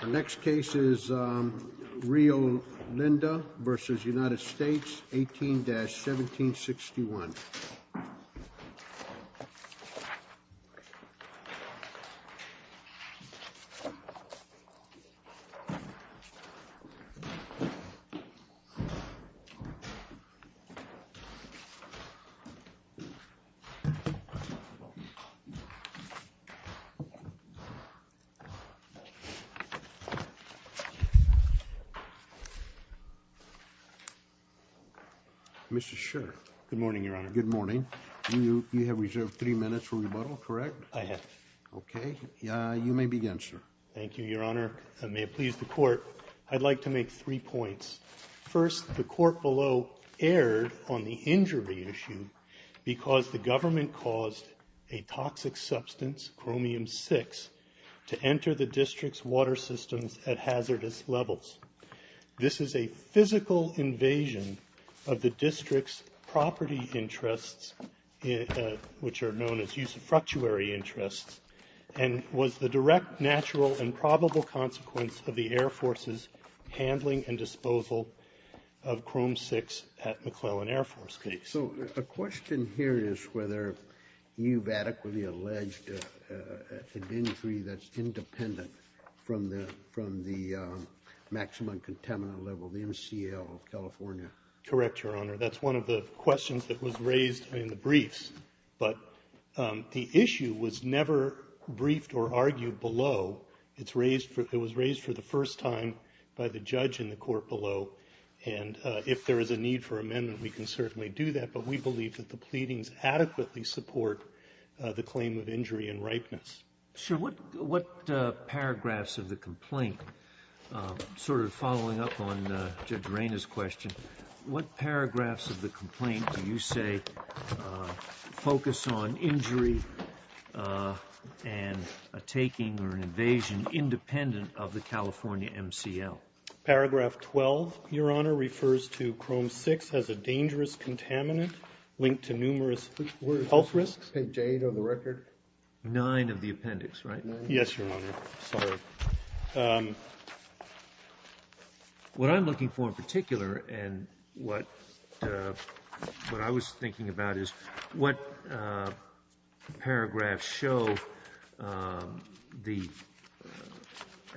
The next case is Rio Linda v. United States, 18-1761. Mr. Schur, good morning, Your Honor. Good morning. You have reserved three minutes for rebuttal, correct? I have. Okay. You may begin, sir. Thank you, Your Honor. May it please the Court, I'd like to make three points. First, the Court below erred on the injury issue because the government caused a toxic substance, chromium-6, to enter the District's water systems at hazardous levels. This is a physical invasion of the District's property interests, which are known as use of fructuary interests, and was the direct, natural, and probable consequence of the Air Force's handling and disposal of chromium-6 at McClellan Air Force Base. So a question here is whether you've adequately alleged an injury that's independent from the maximum contaminant level, the MCL of California. Correct, Your Honor. That's one of the questions that was raised in the briefs. But the issue was never briefed or argued below. It was raised for the first time by the judge in the Court below. And if there is a need for amendment, we can certainly do that. But we believe that the pleadings adequately support the claim of injury and ripeness. Sure. What paragraphs of the complaint, sort of following up on Judge Reina's question, what paragraphs of the complaint do you say focus on injury and a taking or an invasion independent of the California MCL? Paragraph 12, Your Honor, refers to chromium-6 as a dangerous contaminant linked to numerous health risks. Page 8 of the record. 9 of the appendix, right? Yes, Your Honor. Sorry. What I'm looking for in particular and what I was thinking about is what paragraphs show an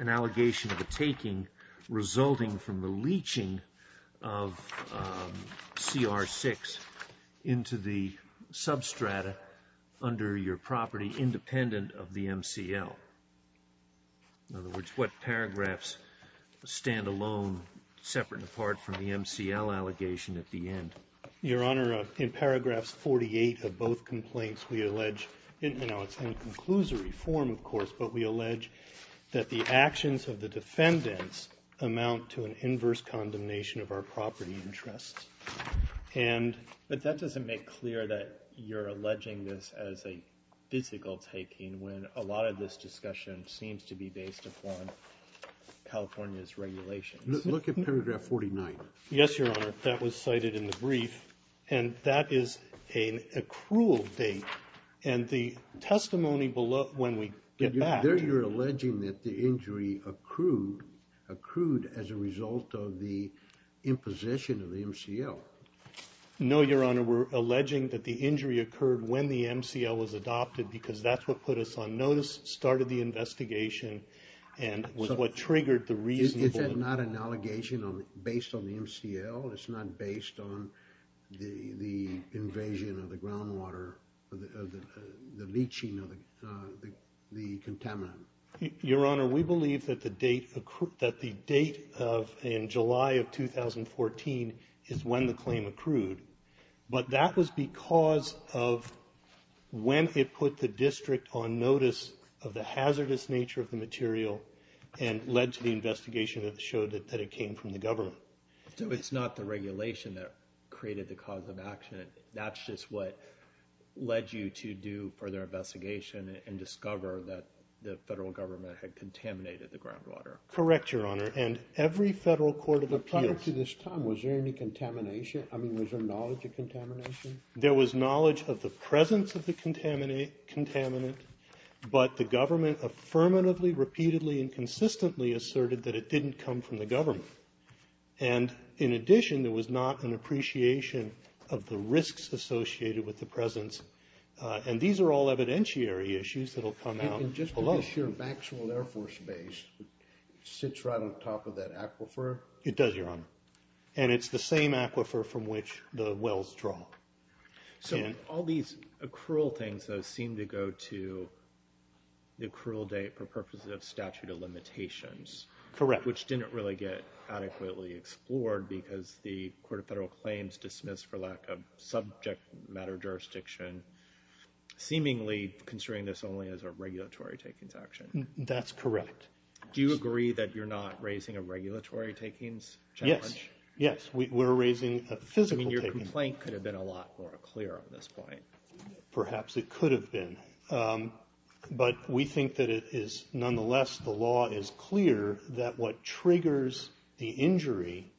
allegation of a taking resulting from the leaching of CR-6 into the substrata under your property independent of the MCL? In other words, what paragraphs stand alone separate and apart from the MCL allegation at the end? Your Honor, in paragraphs 48 of both complaints, we allege, and now it's in conclusory form, of course, but we allege that the actions of the defendants amount to an inverse condemnation of our property interests. But that doesn't make clear that you're alleging this as a physical taking when a lot of this discussion seems to be based upon California's regulations. Look at paragraph 49. Yes, Your Honor. That was cited in the brief, and that is an accrual date. And the testimony below, when we get back... There you're alleging that the injury accrued as a result of the imposition of the MCL. No, Your Honor. We're alleging that the injury occurred when the MCL was adopted because that's what put us on notice, started the investigation, and was what triggered the reasonable... the leaching of the contaminant. Your Honor, we believe that the date in July of 2014 is when the claim accrued. But that was because of when it put the district on notice of the hazardous nature of the material and led to the investigation that showed that it came from the government. So it's not the regulation that created the cause of action. That's just what led you to do further investigation and discover that the federal government had contaminated the groundwater. Correct, Your Honor. And every federal court of appeals... Prior to this time, was there any contamination? I mean, was there knowledge of contamination? There was knowledge of the presence of the contaminant, but the government affirmatively, repeatedly, and consistently asserted that it didn't come from the government. And in addition, there was not an appreciation of the risks associated with the presence. And these are all evidentiary issues that'll come out. And just to be sure, Maxwell Air Force Base sits right on top of that aquifer? It does, Your Honor. And it's the same aquifer from which the wells draw. So all these accrual things, though, seem to go to the accrual date for purposes of statute of limitations. Correct. Which didn't really get adequately explored because the Court of Federal Claims dismissed for lack of subject matter jurisdiction, seemingly considering this only as a regulatory takings action. That's correct. Do you agree that you're not raising a regulatory takings challenge? Yes, yes. We're raising a physical taking. I mean, your complaint could have been a lot more clear on this point. Perhaps it could have been. But we think that it is nonetheless the law is clear that what triggers the injury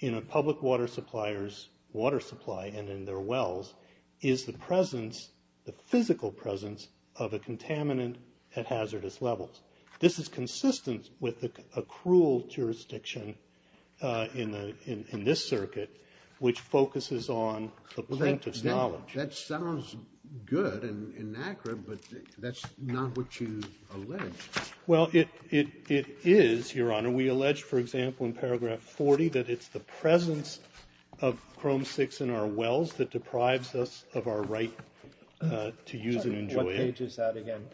in a public water supplier's water supply and in their wells is the presence, the physical presence, of a contaminant at hazardous levels. This is consistent with the accrual jurisdiction in this circuit, which focuses on the plaintiff's knowledge. That sounds good and accurate, but that's not what you allege. Well, it is, Your Honor. We allege, for example, in paragraph 40, that it's the presence of chrome 6 in our wells that deprives us of our right to use and enjoy it. What page is that again?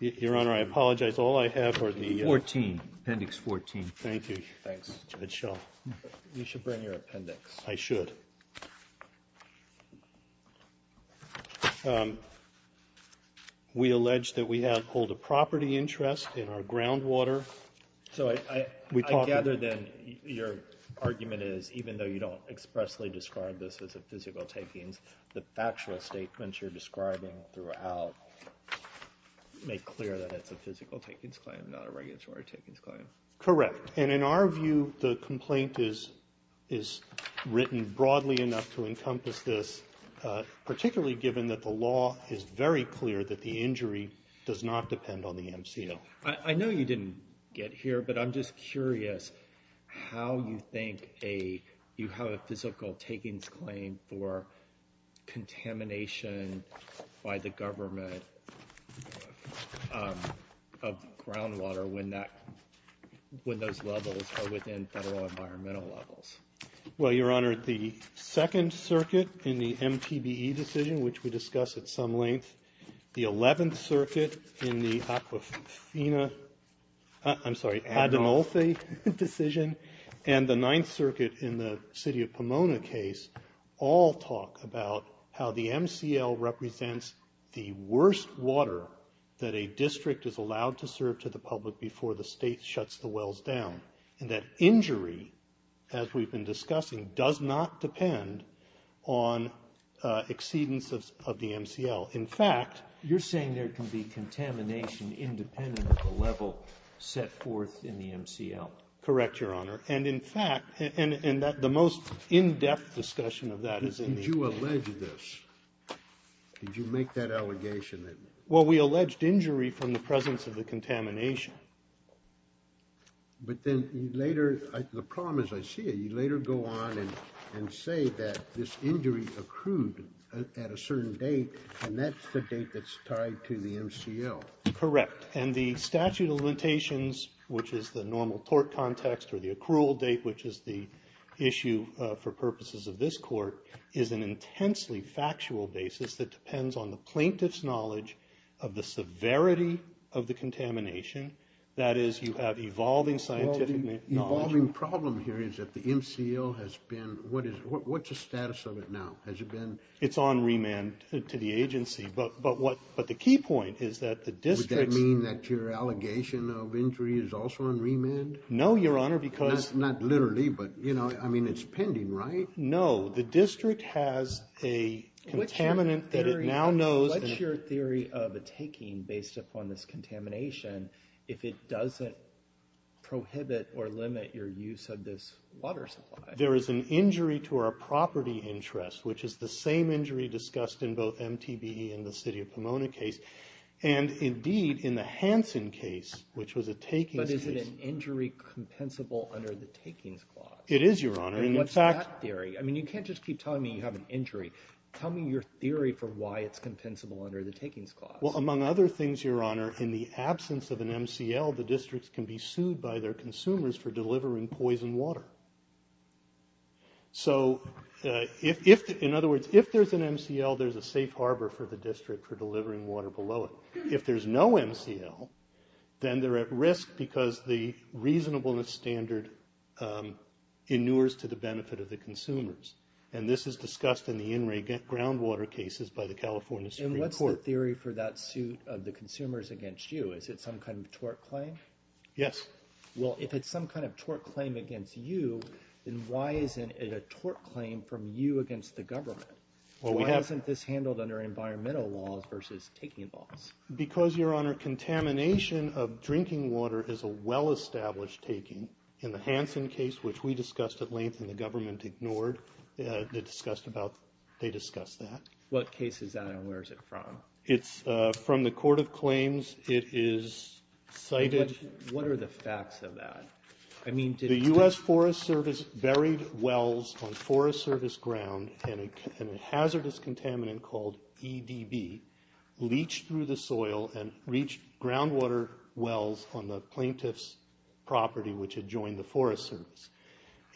Your Honor, I apologize. All I have are the— 14. Appendix 14. Thank you. You should bring your appendix. I should. We allege that we have hold a property interest in our groundwater. So I gather then your argument is even though you don't expressly describe this as a physical takings, the factual statements you're describing throughout make clear that it's a physical takings claim, not a regulatory takings claim. Correct. And in our view, the complaint is written broadly enough to encompass this, particularly given that the law is very clear that the injury does not depend on the MCO. I know you didn't get here, but I'm just curious how you think you have a physical takings claim for contamination by the government of groundwater when those levels are within federal environmental levels. Well, Your Honor, the Second Circuit in the MPBE decision, which we discussed at some length, the Eleventh Circuit in the Aquafina—I'm sorry, Adenolphe decision, and the Ninth Circuit in the city of Pomona case all talk about how the MCL represents the worst water that a district is allowed to serve to the public before the state shuts the wells down, and that injury, as we've been discussing, does not depend on exceedance of the MCL. In fact, you're saying there can be contamination independent of the level set forth in the MCL. Correct, Your Honor. And in fact—and the most in-depth discussion of that is in the— Did you allege this? Did you make that allegation? Well, we alleged injury from the presence of the contamination. But then later—the problem is I see it. You later go on and say that this injury accrued at a certain date, and that's the date that's tied to the MCL. Correct. And the statute of limitations, which is the normal tort context, or the accrual date, which is the issue for purposes of this Court, is an intensely factual basis that depends on the plaintiff's knowledge of the severity of the contamination. That is, you have evolving scientific knowledge— The MCL has been—what's the status of it now? Has it been— It's on remand to the agency. But the key point is that the district— Would that mean that your allegation of injury is also on remand? No, Your Honor, because— Not literally, but, you know, I mean, it's pending, right? No. The district has a contaminant that it now knows— What's your theory of a taking based upon this contamination if it doesn't prohibit or limit your use of this water supply? There is an injury to our property interest, which is the same injury discussed in both MTBE and the City of Pomona case, and indeed in the Hansen case, which was a takings case. But is it an injury compensable under the takings clause? It is, Your Honor. And what's that theory? I mean, you can't just keep telling me you have an injury. Tell me your theory for why it's compensable under the takings clause. Well, among other things, Your Honor, in the absence of an MCL, the districts can be sued by their consumers for delivering poison water. So in other words, if there's an MCL, there's a safe harbor for the district for delivering water below it. If there's no MCL, then they're at risk because the reasonableness standard inures to the benefit of the consumers. And this is discussed in the in-ray groundwater cases by the California Supreme Court. So what's the theory for that suit of the consumers against you? Is it some kind of tort claim? Yes. Well, if it's some kind of tort claim against you, then why isn't it a tort claim from you against the government? Why isn't this handled under environmental laws versus taking laws? Because, Your Honor, contamination of drinking water is a well-established taking. In the Hansen case, which we discussed at length and the government ignored, they discussed that. What case is that and where is it from? It's from the Court of Claims. It is cited. What are the facts of that? The U.S. Forest Service buried wells on Forest Service ground and a hazardous contaminant called EDB leached through the soil and reached groundwater wells on the plaintiff's property, which had joined the Forest Service.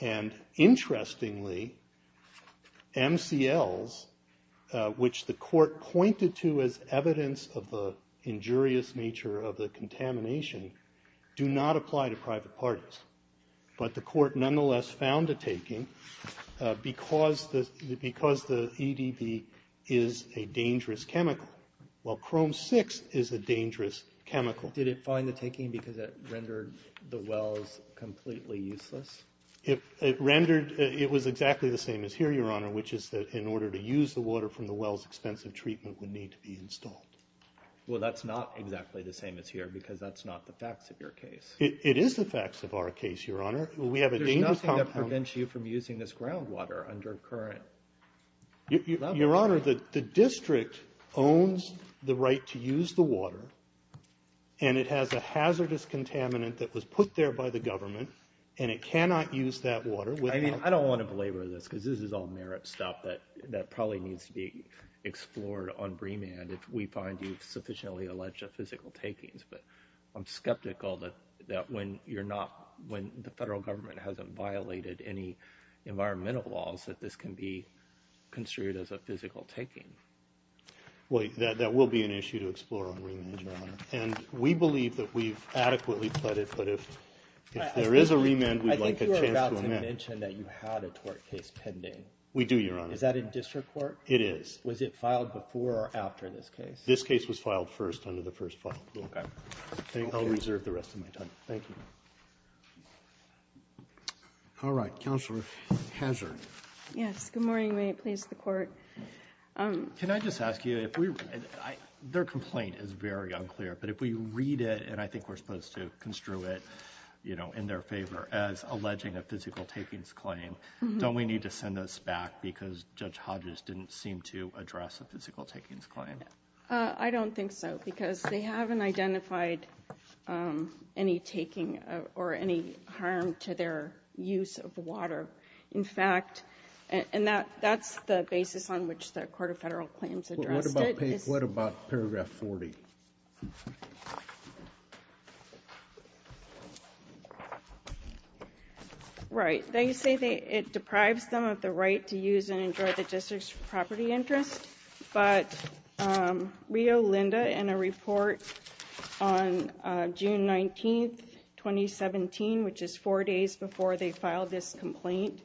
And interestingly, MCLs, which the court pointed to as evidence of the injurious nature of the contamination, do not apply to private parties. But the court nonetheless found a taking because the EDB is a dangerous chemical, while Chrome 6 is a dangerous chemical. Did it find the taking because it rendered the wells completely useless? It was exactly the same as here, Your Honor, which is that in order to use the water from the wells, expensive treatment would need to be installed. Well, that's not exactly the same as here because that's not the facts of your case. It is the facts of our case, Your Honor. There's nothing that prevents you from using this groundwater under current levels. Your Honor, the district owns the right to use the water, and it has a hazardous contaminant that was put there by the government, and it cannot use that water. I mean, I don't want to belabor this because this is all merit stuff that probably needs to be explored on BREAMAN if we find you sufficiently alleged of physical takings. But I'm skeptical that when you're not, when the federal government hasn't violated any environmental laws, that this can be construed as a physical taking. Well, that will be an issue to explore on BREAMAN, Your Honor. And we believe that we've adequately pledged, but if there is a BREAMAN, we'd like a chance to amend. I think you were about to mention that you had a tort case pending. We do, Your Honor. Is that in district court? It is. Was it filed before or after this case? This case was filed first under the first file. Okay. I'll reserve the rest of my time. Thank you. All right. Counselor Hazard. Yes. Good morning. May it please the court. Can I just ask you, their complaint is very unclear, but if we read it, and I think we're supposed to construe it, you know, in their favor, as alleging a physical takings claim, don't we need to send this back because Judge Hodges didn't seem to address a physical takings claim? I don't think so because they haven't identified any taking or any harm to their use of water. In fact, and that's the basis on which the Court of Federal Claims addressed it. What about paragraph 40? Right. They say it deprives them of the right to use and enjoy the district's property interest, but Rio Linda, in a report on June 19, 2017, which is four days before they filed this complaint,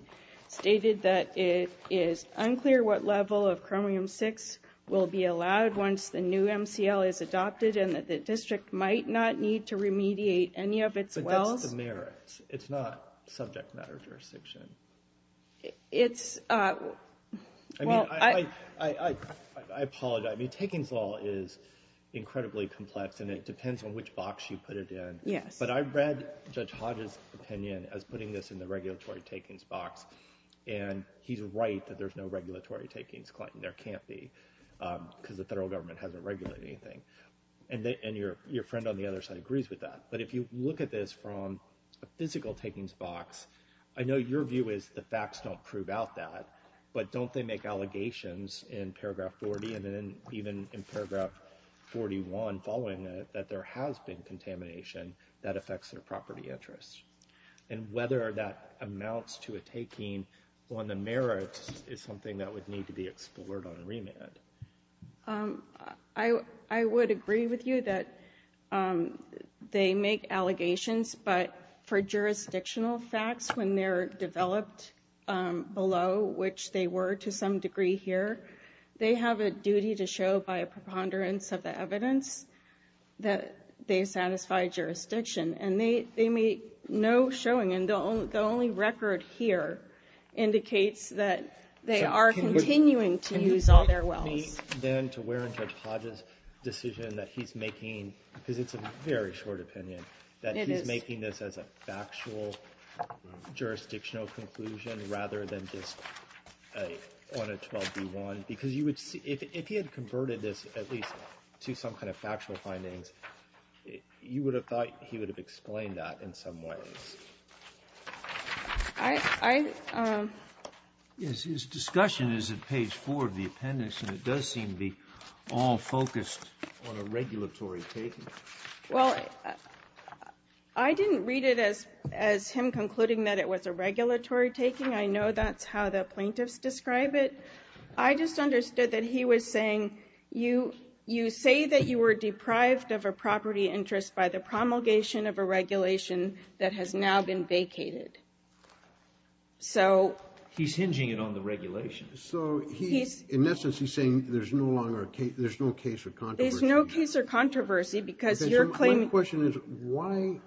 stated that it is unclear what level of chromium-6 will be allowed once the new MCL is adopted and that the district might not need to remediate any of its wells. But that's the merits. It's not subject matter jurisdiction. It's... I mean, I apologize. I mean, takings law is incredibly complex and it depends on which box you put it in. Yes. But I read Judge Hodges' opinion as putting this in the regulatory takings box and he's right that there's no regulatory takings claim. There can't be because the federal government hasn't regulated anything. And your friend on the other side agrees with that. But if you look at this from a physical takings box, I know your view is the facts don't prove out that, but don't they make allegations in paragraph 40 and then even in paragraph 41 following it that there has been contamination that affects their property interest? And whether that amounts to a taking on the merits is something that would need to be explored on remand. I would agree with you that they make allegations, but for jurisdictional facts, when they're developed below, which they were to some degree here, they have a duty to show by a preponderance of the evidence that they satisfy jurisdiction. And they make no showing, and the only record here indicates that they are continuing to use all their wells. Can you point me then to where in Judge Hodges' decision that he's making, because it's a very short opinion, that he's making this as a factual jurisdictional conclusion rather than just on a 12B1? Because you would see, if he had converted this at least to some kind of factual findings, you would have thought he would have explained that in some ways. Yes, his discussion is at page 4 of the appendix, and it does seem to be all focused on a regulatory taking. Well, I didn't read it as him concluding that it was a regulatory taking. I know that's how the plaintiffs describe it. I just understood that he was saying, you say that you were deprived of a property interest by the promulgation of a regulation that has now been vacated. So... He's hinging it on the regulation. So, in essence, he's saying there's no case or controversy. Because your claim... My question is, why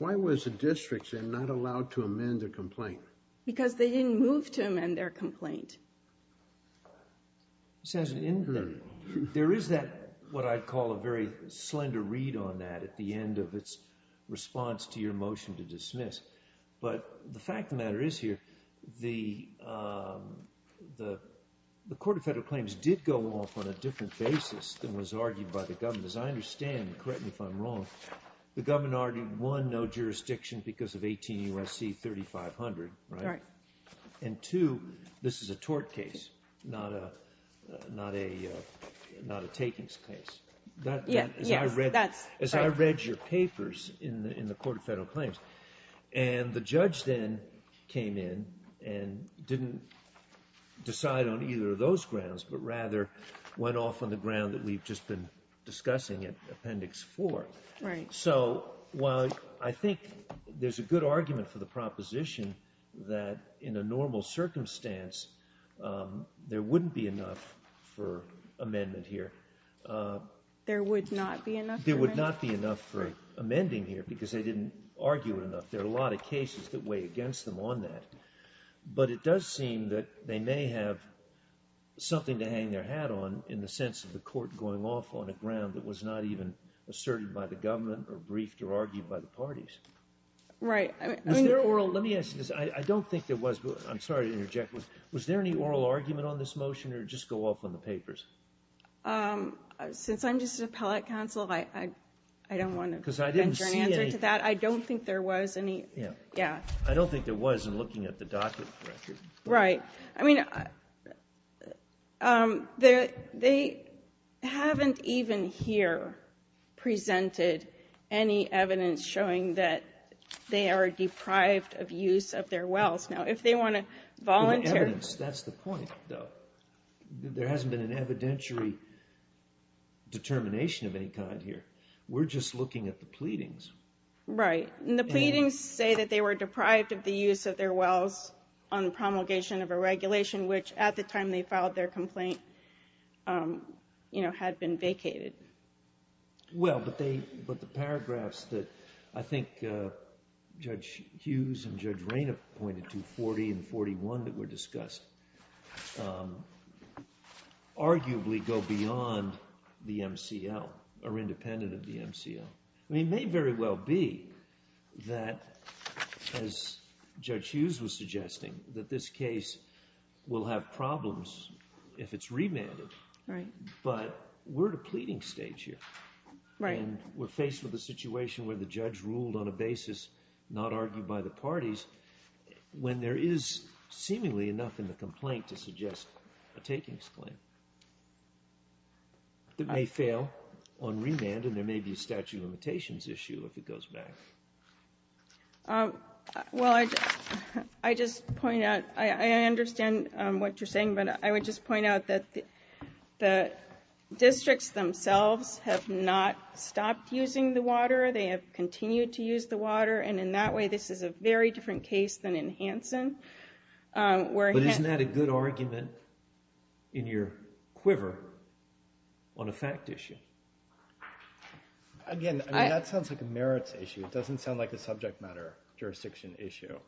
was the district not allowed to amend their complaint? Because they didn't move to amend their complaint. This has an inquiry. There is what I'd call a very slender read on that at the end of its response to your motion to dismiss. But the fact of the matter is here, the Court of Federal Claims did go off on a different basis than was argued by the government. As I understand, correct me if I'm wrong, the government argued, one, no jurisdiction because of 18 U.S.C. 3500, right? Right. And two, this is a tort case, not a takings case. Yes, that's right. As I read your papers in the Court of Federal Claims, and the judge then came in and didn't decide on either of those grounds, but rather went off on the ground that we've just been discussing in Appendix 4. Right. So, while I think there's a good argument for the proposition that in a normal circumstance, there wouldn't be enough for amendment here. There would not be enough for amendment? There would not be enough for amending here because they didn't argue enough. There are a lot of cases that weigh against them on that. But it does seem that they may have something to hang their hat on in the sense of the court going off on a ground that was not even asserted by the government or briefed or argued by the parties. Right. Let me ask you this. I don't think there was, but I'm sorry to interject. Was there any oral argument on this motion or just go off on the papers? Since I'm just an appellate counsel, I don't want to venture an answer to that. I don't think there was any. I don't think there was in looking at the docket record. Right. I mean, they haven't even here presented any evidence showing that they are deprived of use of their wells. Now, if they want to volunteer. That's the point, though. There hasn't been an evidentiary determination of any kind here. We're just looking at the pleadings. Right. And the pleadings say that they were deprived of the use of their wells on promulgation of a regulation which at the time they filed their complaint had been vacated. Well, but the paragraphs that I think Judge Hughes and Judge Rayna pointed to, 40 and 41 that were discussed, arguably go beyond the MCL or independent of the MCL. I mean, it may very well be that, as Judge Hughes was suggesting, that this case will have problems if it's remanded. Right. But we're at a pleading stage here. Right. And we're faced with a situation where the judge ruled on a basis not argued by the parties when there is seemingly enough in the complaint to suggest a takings claim. It may fail on remand and there may be a statute of limitations issue if it goes back. Well, I just point out, I understand what you're saying, but I would just point out that the districts themselves have not stopped using the water. They have continued to use the water, and in that way this is a very different case than in Hanson. But isn't that a good argument in your quiver on a fact issue? Again, that sounds like a merits issue. It doesn't sound like a subject matter jurisdiction issue.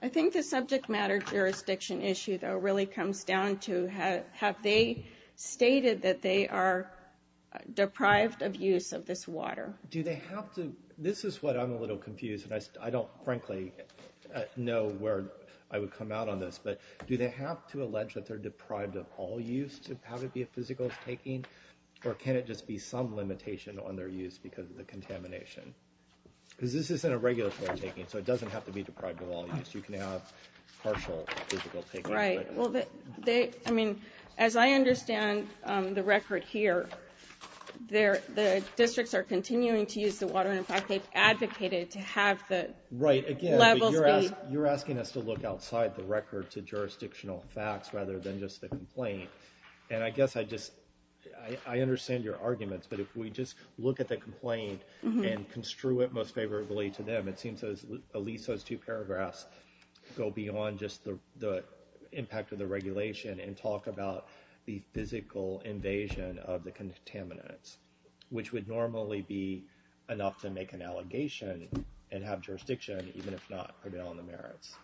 I think the subject matter jurisdiction issue, though, really comes down to have they stated that they are deprived of use of this water? Do they have to? This is what I'm a little confused, and I don't, frankly, know where I would come out on this. But do they have to allege that they're deprived of all use to have it be a physical taking? Or can it just be some limitation on their use because of the contamination? Because this isn't a regulatory taking, so it doesn't have to be deprived of all use. You can have partial physical taking. Right. Well, as I understand the record here, the districts are continuing to use the water, and, in fact, they've advocated to have the levels be- Right. Again, you're asking us to look outside the record to jurisdictional facts rather than just the complaint. And I guess I just understand your arguments, but if we just look at the complaint and construe it most favorably to them, it seems as at least those two paragraphs go beyond just the impact of the regulation and talk about the physical invasion of the contaminants, which would normally be enough to make an allegation and have jurisdiction, even if not prevail on the merits.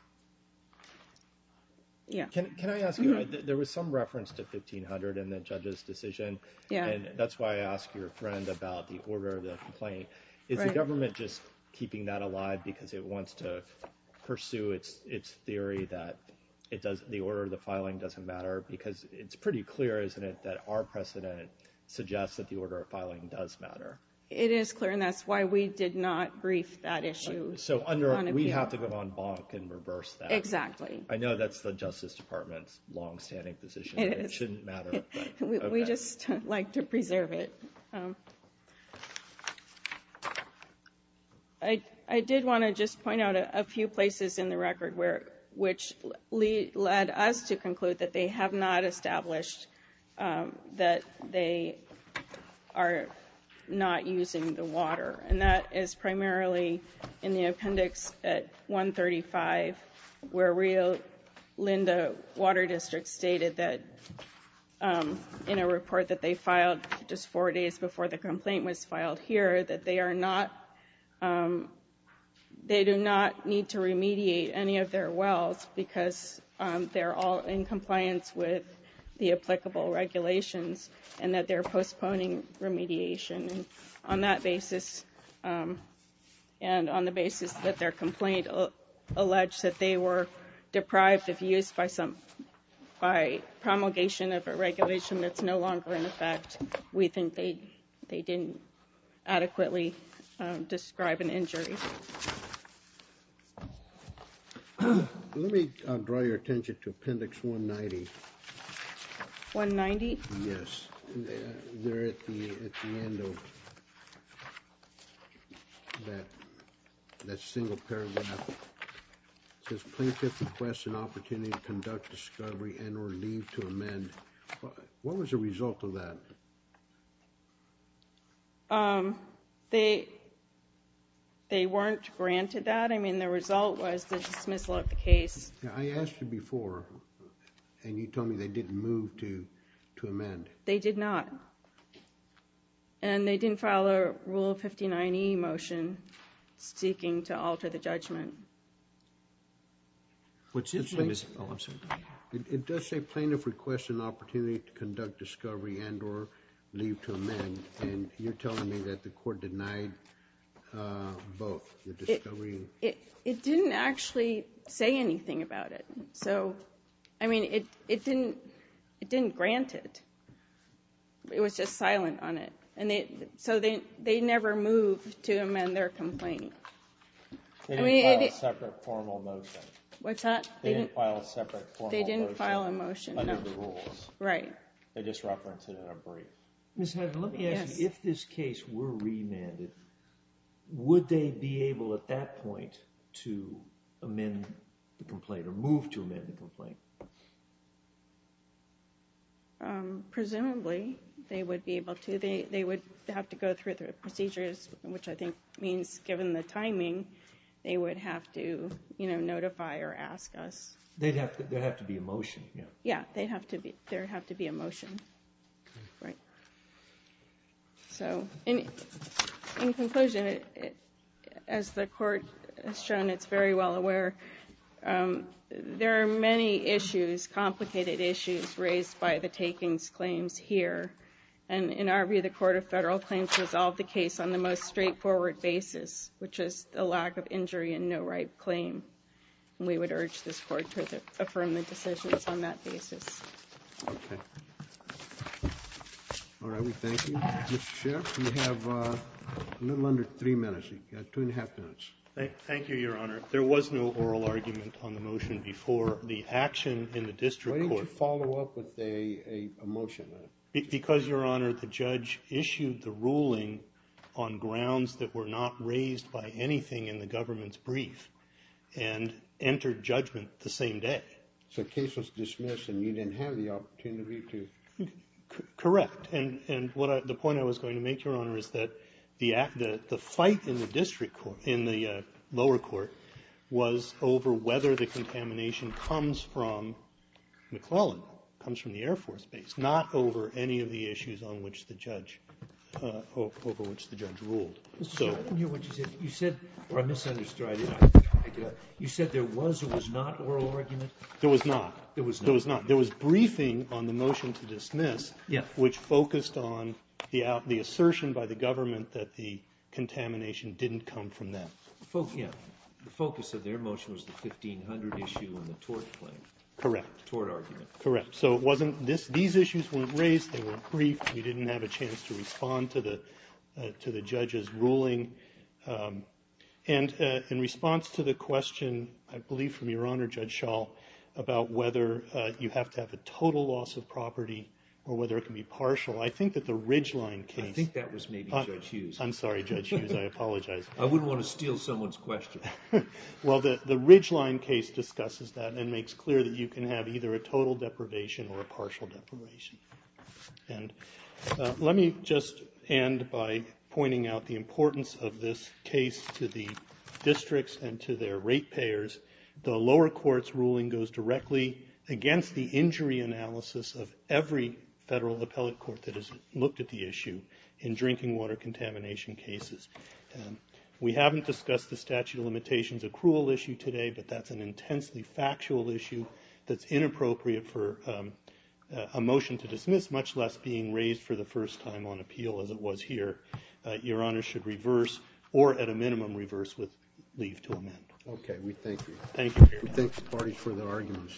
Yeah. Can I ask you, there was some reference to 1500 in the judge's decision. Yeah. And that's why I asked your friend about the order of the complaint. Right. Is the government just keeping that alive because it wants to pursue its theory that the order of the filing doesn't matter? Because it's pretty clear, isn't it, that our precedent suggests that the order of filing does matter? It is clear, and that's why we did not brief that issue. So we have to go on bonk and reverse that. Exactly. I know that's the Justice Department's longstanding position. It is. It shouldn't matter, but okay. We just like to preserve it. I did want to just point out a few places in the record which led us to conclude that they have not established that they are not using the water. And that is primarily in the appendix at 135, where Rio Linda Water District stated that in a report that they filed just four days before the complaint was filed here, that they do not need to remediate any of their wells because they're all in compliance with the applicable regulations and that they're postponing remediation. And on the basis that their complaint alleged that they were deprived of use by promulgation of a regulation that's no longer in effect, we think they didn't adequately describe an injury. Let me draw your attention to appendix 190. 190? Yes. There at the end of that single paragraph, it says plaintiff requests an opportunity to conduct discovery and or leave to amend. What was the result of that? They weren't granted that. I mean, the result was the dismissal of the case. I asked you before and you told me they didn't move to amend. They did not. And they didn't file a Rule 59e motion seeking to alter the judgment. It does say plaintiff requests an opportunity to conduct discovery and or leave to amend, and you're telling me that the court denied both, the discovery. It didn't actually say anything about it. So, I mean, it didn't grant it. It was just silent on it. So they never moved to amend their complaint. They didn't file a separate formal motion. What's that? They didn't file a separate formal motion. They didn't file a motion. Under the rules. Right. They just referenced it in a brief. Ms. Hadley, let me ask you, if this case were remanded, would they be able at that point to amend the complaint or move to amend the complaint? Presumably, they would be able to. They would have to go through the procedures, which I think means, given the timing, they would have to notify or ask us. There would have to be a motion. Yeah, there would have to be a motion. Right. So, in conclusion, as the court has shown, it's very well aware. There are many issues, complicated issues, raised by the takings claims here. And in our view, the Court of Federal Claims resolved the case on the most straightforward basis, which is the lack of injury and no right claim. And we would urge this court to affirm the decisions on that basis. Okay. All right, we thank you. Mr. Sheriff, you have a little under three minutes. You've got two and a half minutes. Thank you, Your Honor. There was no oral argument on the motion before the action in the district court. Why didn't you follow up with a motion? Because, Your Honor, the judge issued the ruling on grounds that were not raised by anything in the government's brief and entered judgment the same day. So the case was dismissed and you didn't have the opportunity to? Correct. And the point I was going to make, Your Honor, is that the fight in the lower court was over whether the contamination comes from McClellan, comes from the Air Force base, not over any of the issues on which the judge ruled. Mr. Sheriff, I didn't hear what you said. You said, or I misunderstood. You said there was or was not oral argument? There was not. There was briefing on the motion to dismiss, which focused on the assertion by the government that the contamination didn't come from them. The focus of their motion was the 1500 issue and the tort claim. Correct. The tort argument. Correct. So it wasn't this. These issues weren't raised. They were brief. You didn't have a chance to respond to the judge's ruling. And in response to the question, I believe from Your Honor, Judge Schall, about whether you have to have a total loss of property or whether it can be partial, I think that the Ridgeline case? I think that was maybe Judge Hughes. I'm sorry, Judge Hughes. I apologize. I wouldn't want to steal someone's question. Well, the Ridgeline case discusses that and makes clear that you can have either a total deprivation or a partial deprivation. And let me just end by pointing out the importance of this case to the districts and to their rate payers. The lower court's ruling goes directly against the injury analysis of every federal appellate court that has looked at the issue in drinking water contamination cases. We haven't discussed the statute of limitations. A cruel issue today, but that's an intensely factual issue that's inappropriate for a motion to dismiss, much less being raised for the first time on appeal as it was here. Your Honor should reverse or, at a minimum, reverse with leave to amend. Okay. We thank you. Thank you. We thank the parties for their arguments.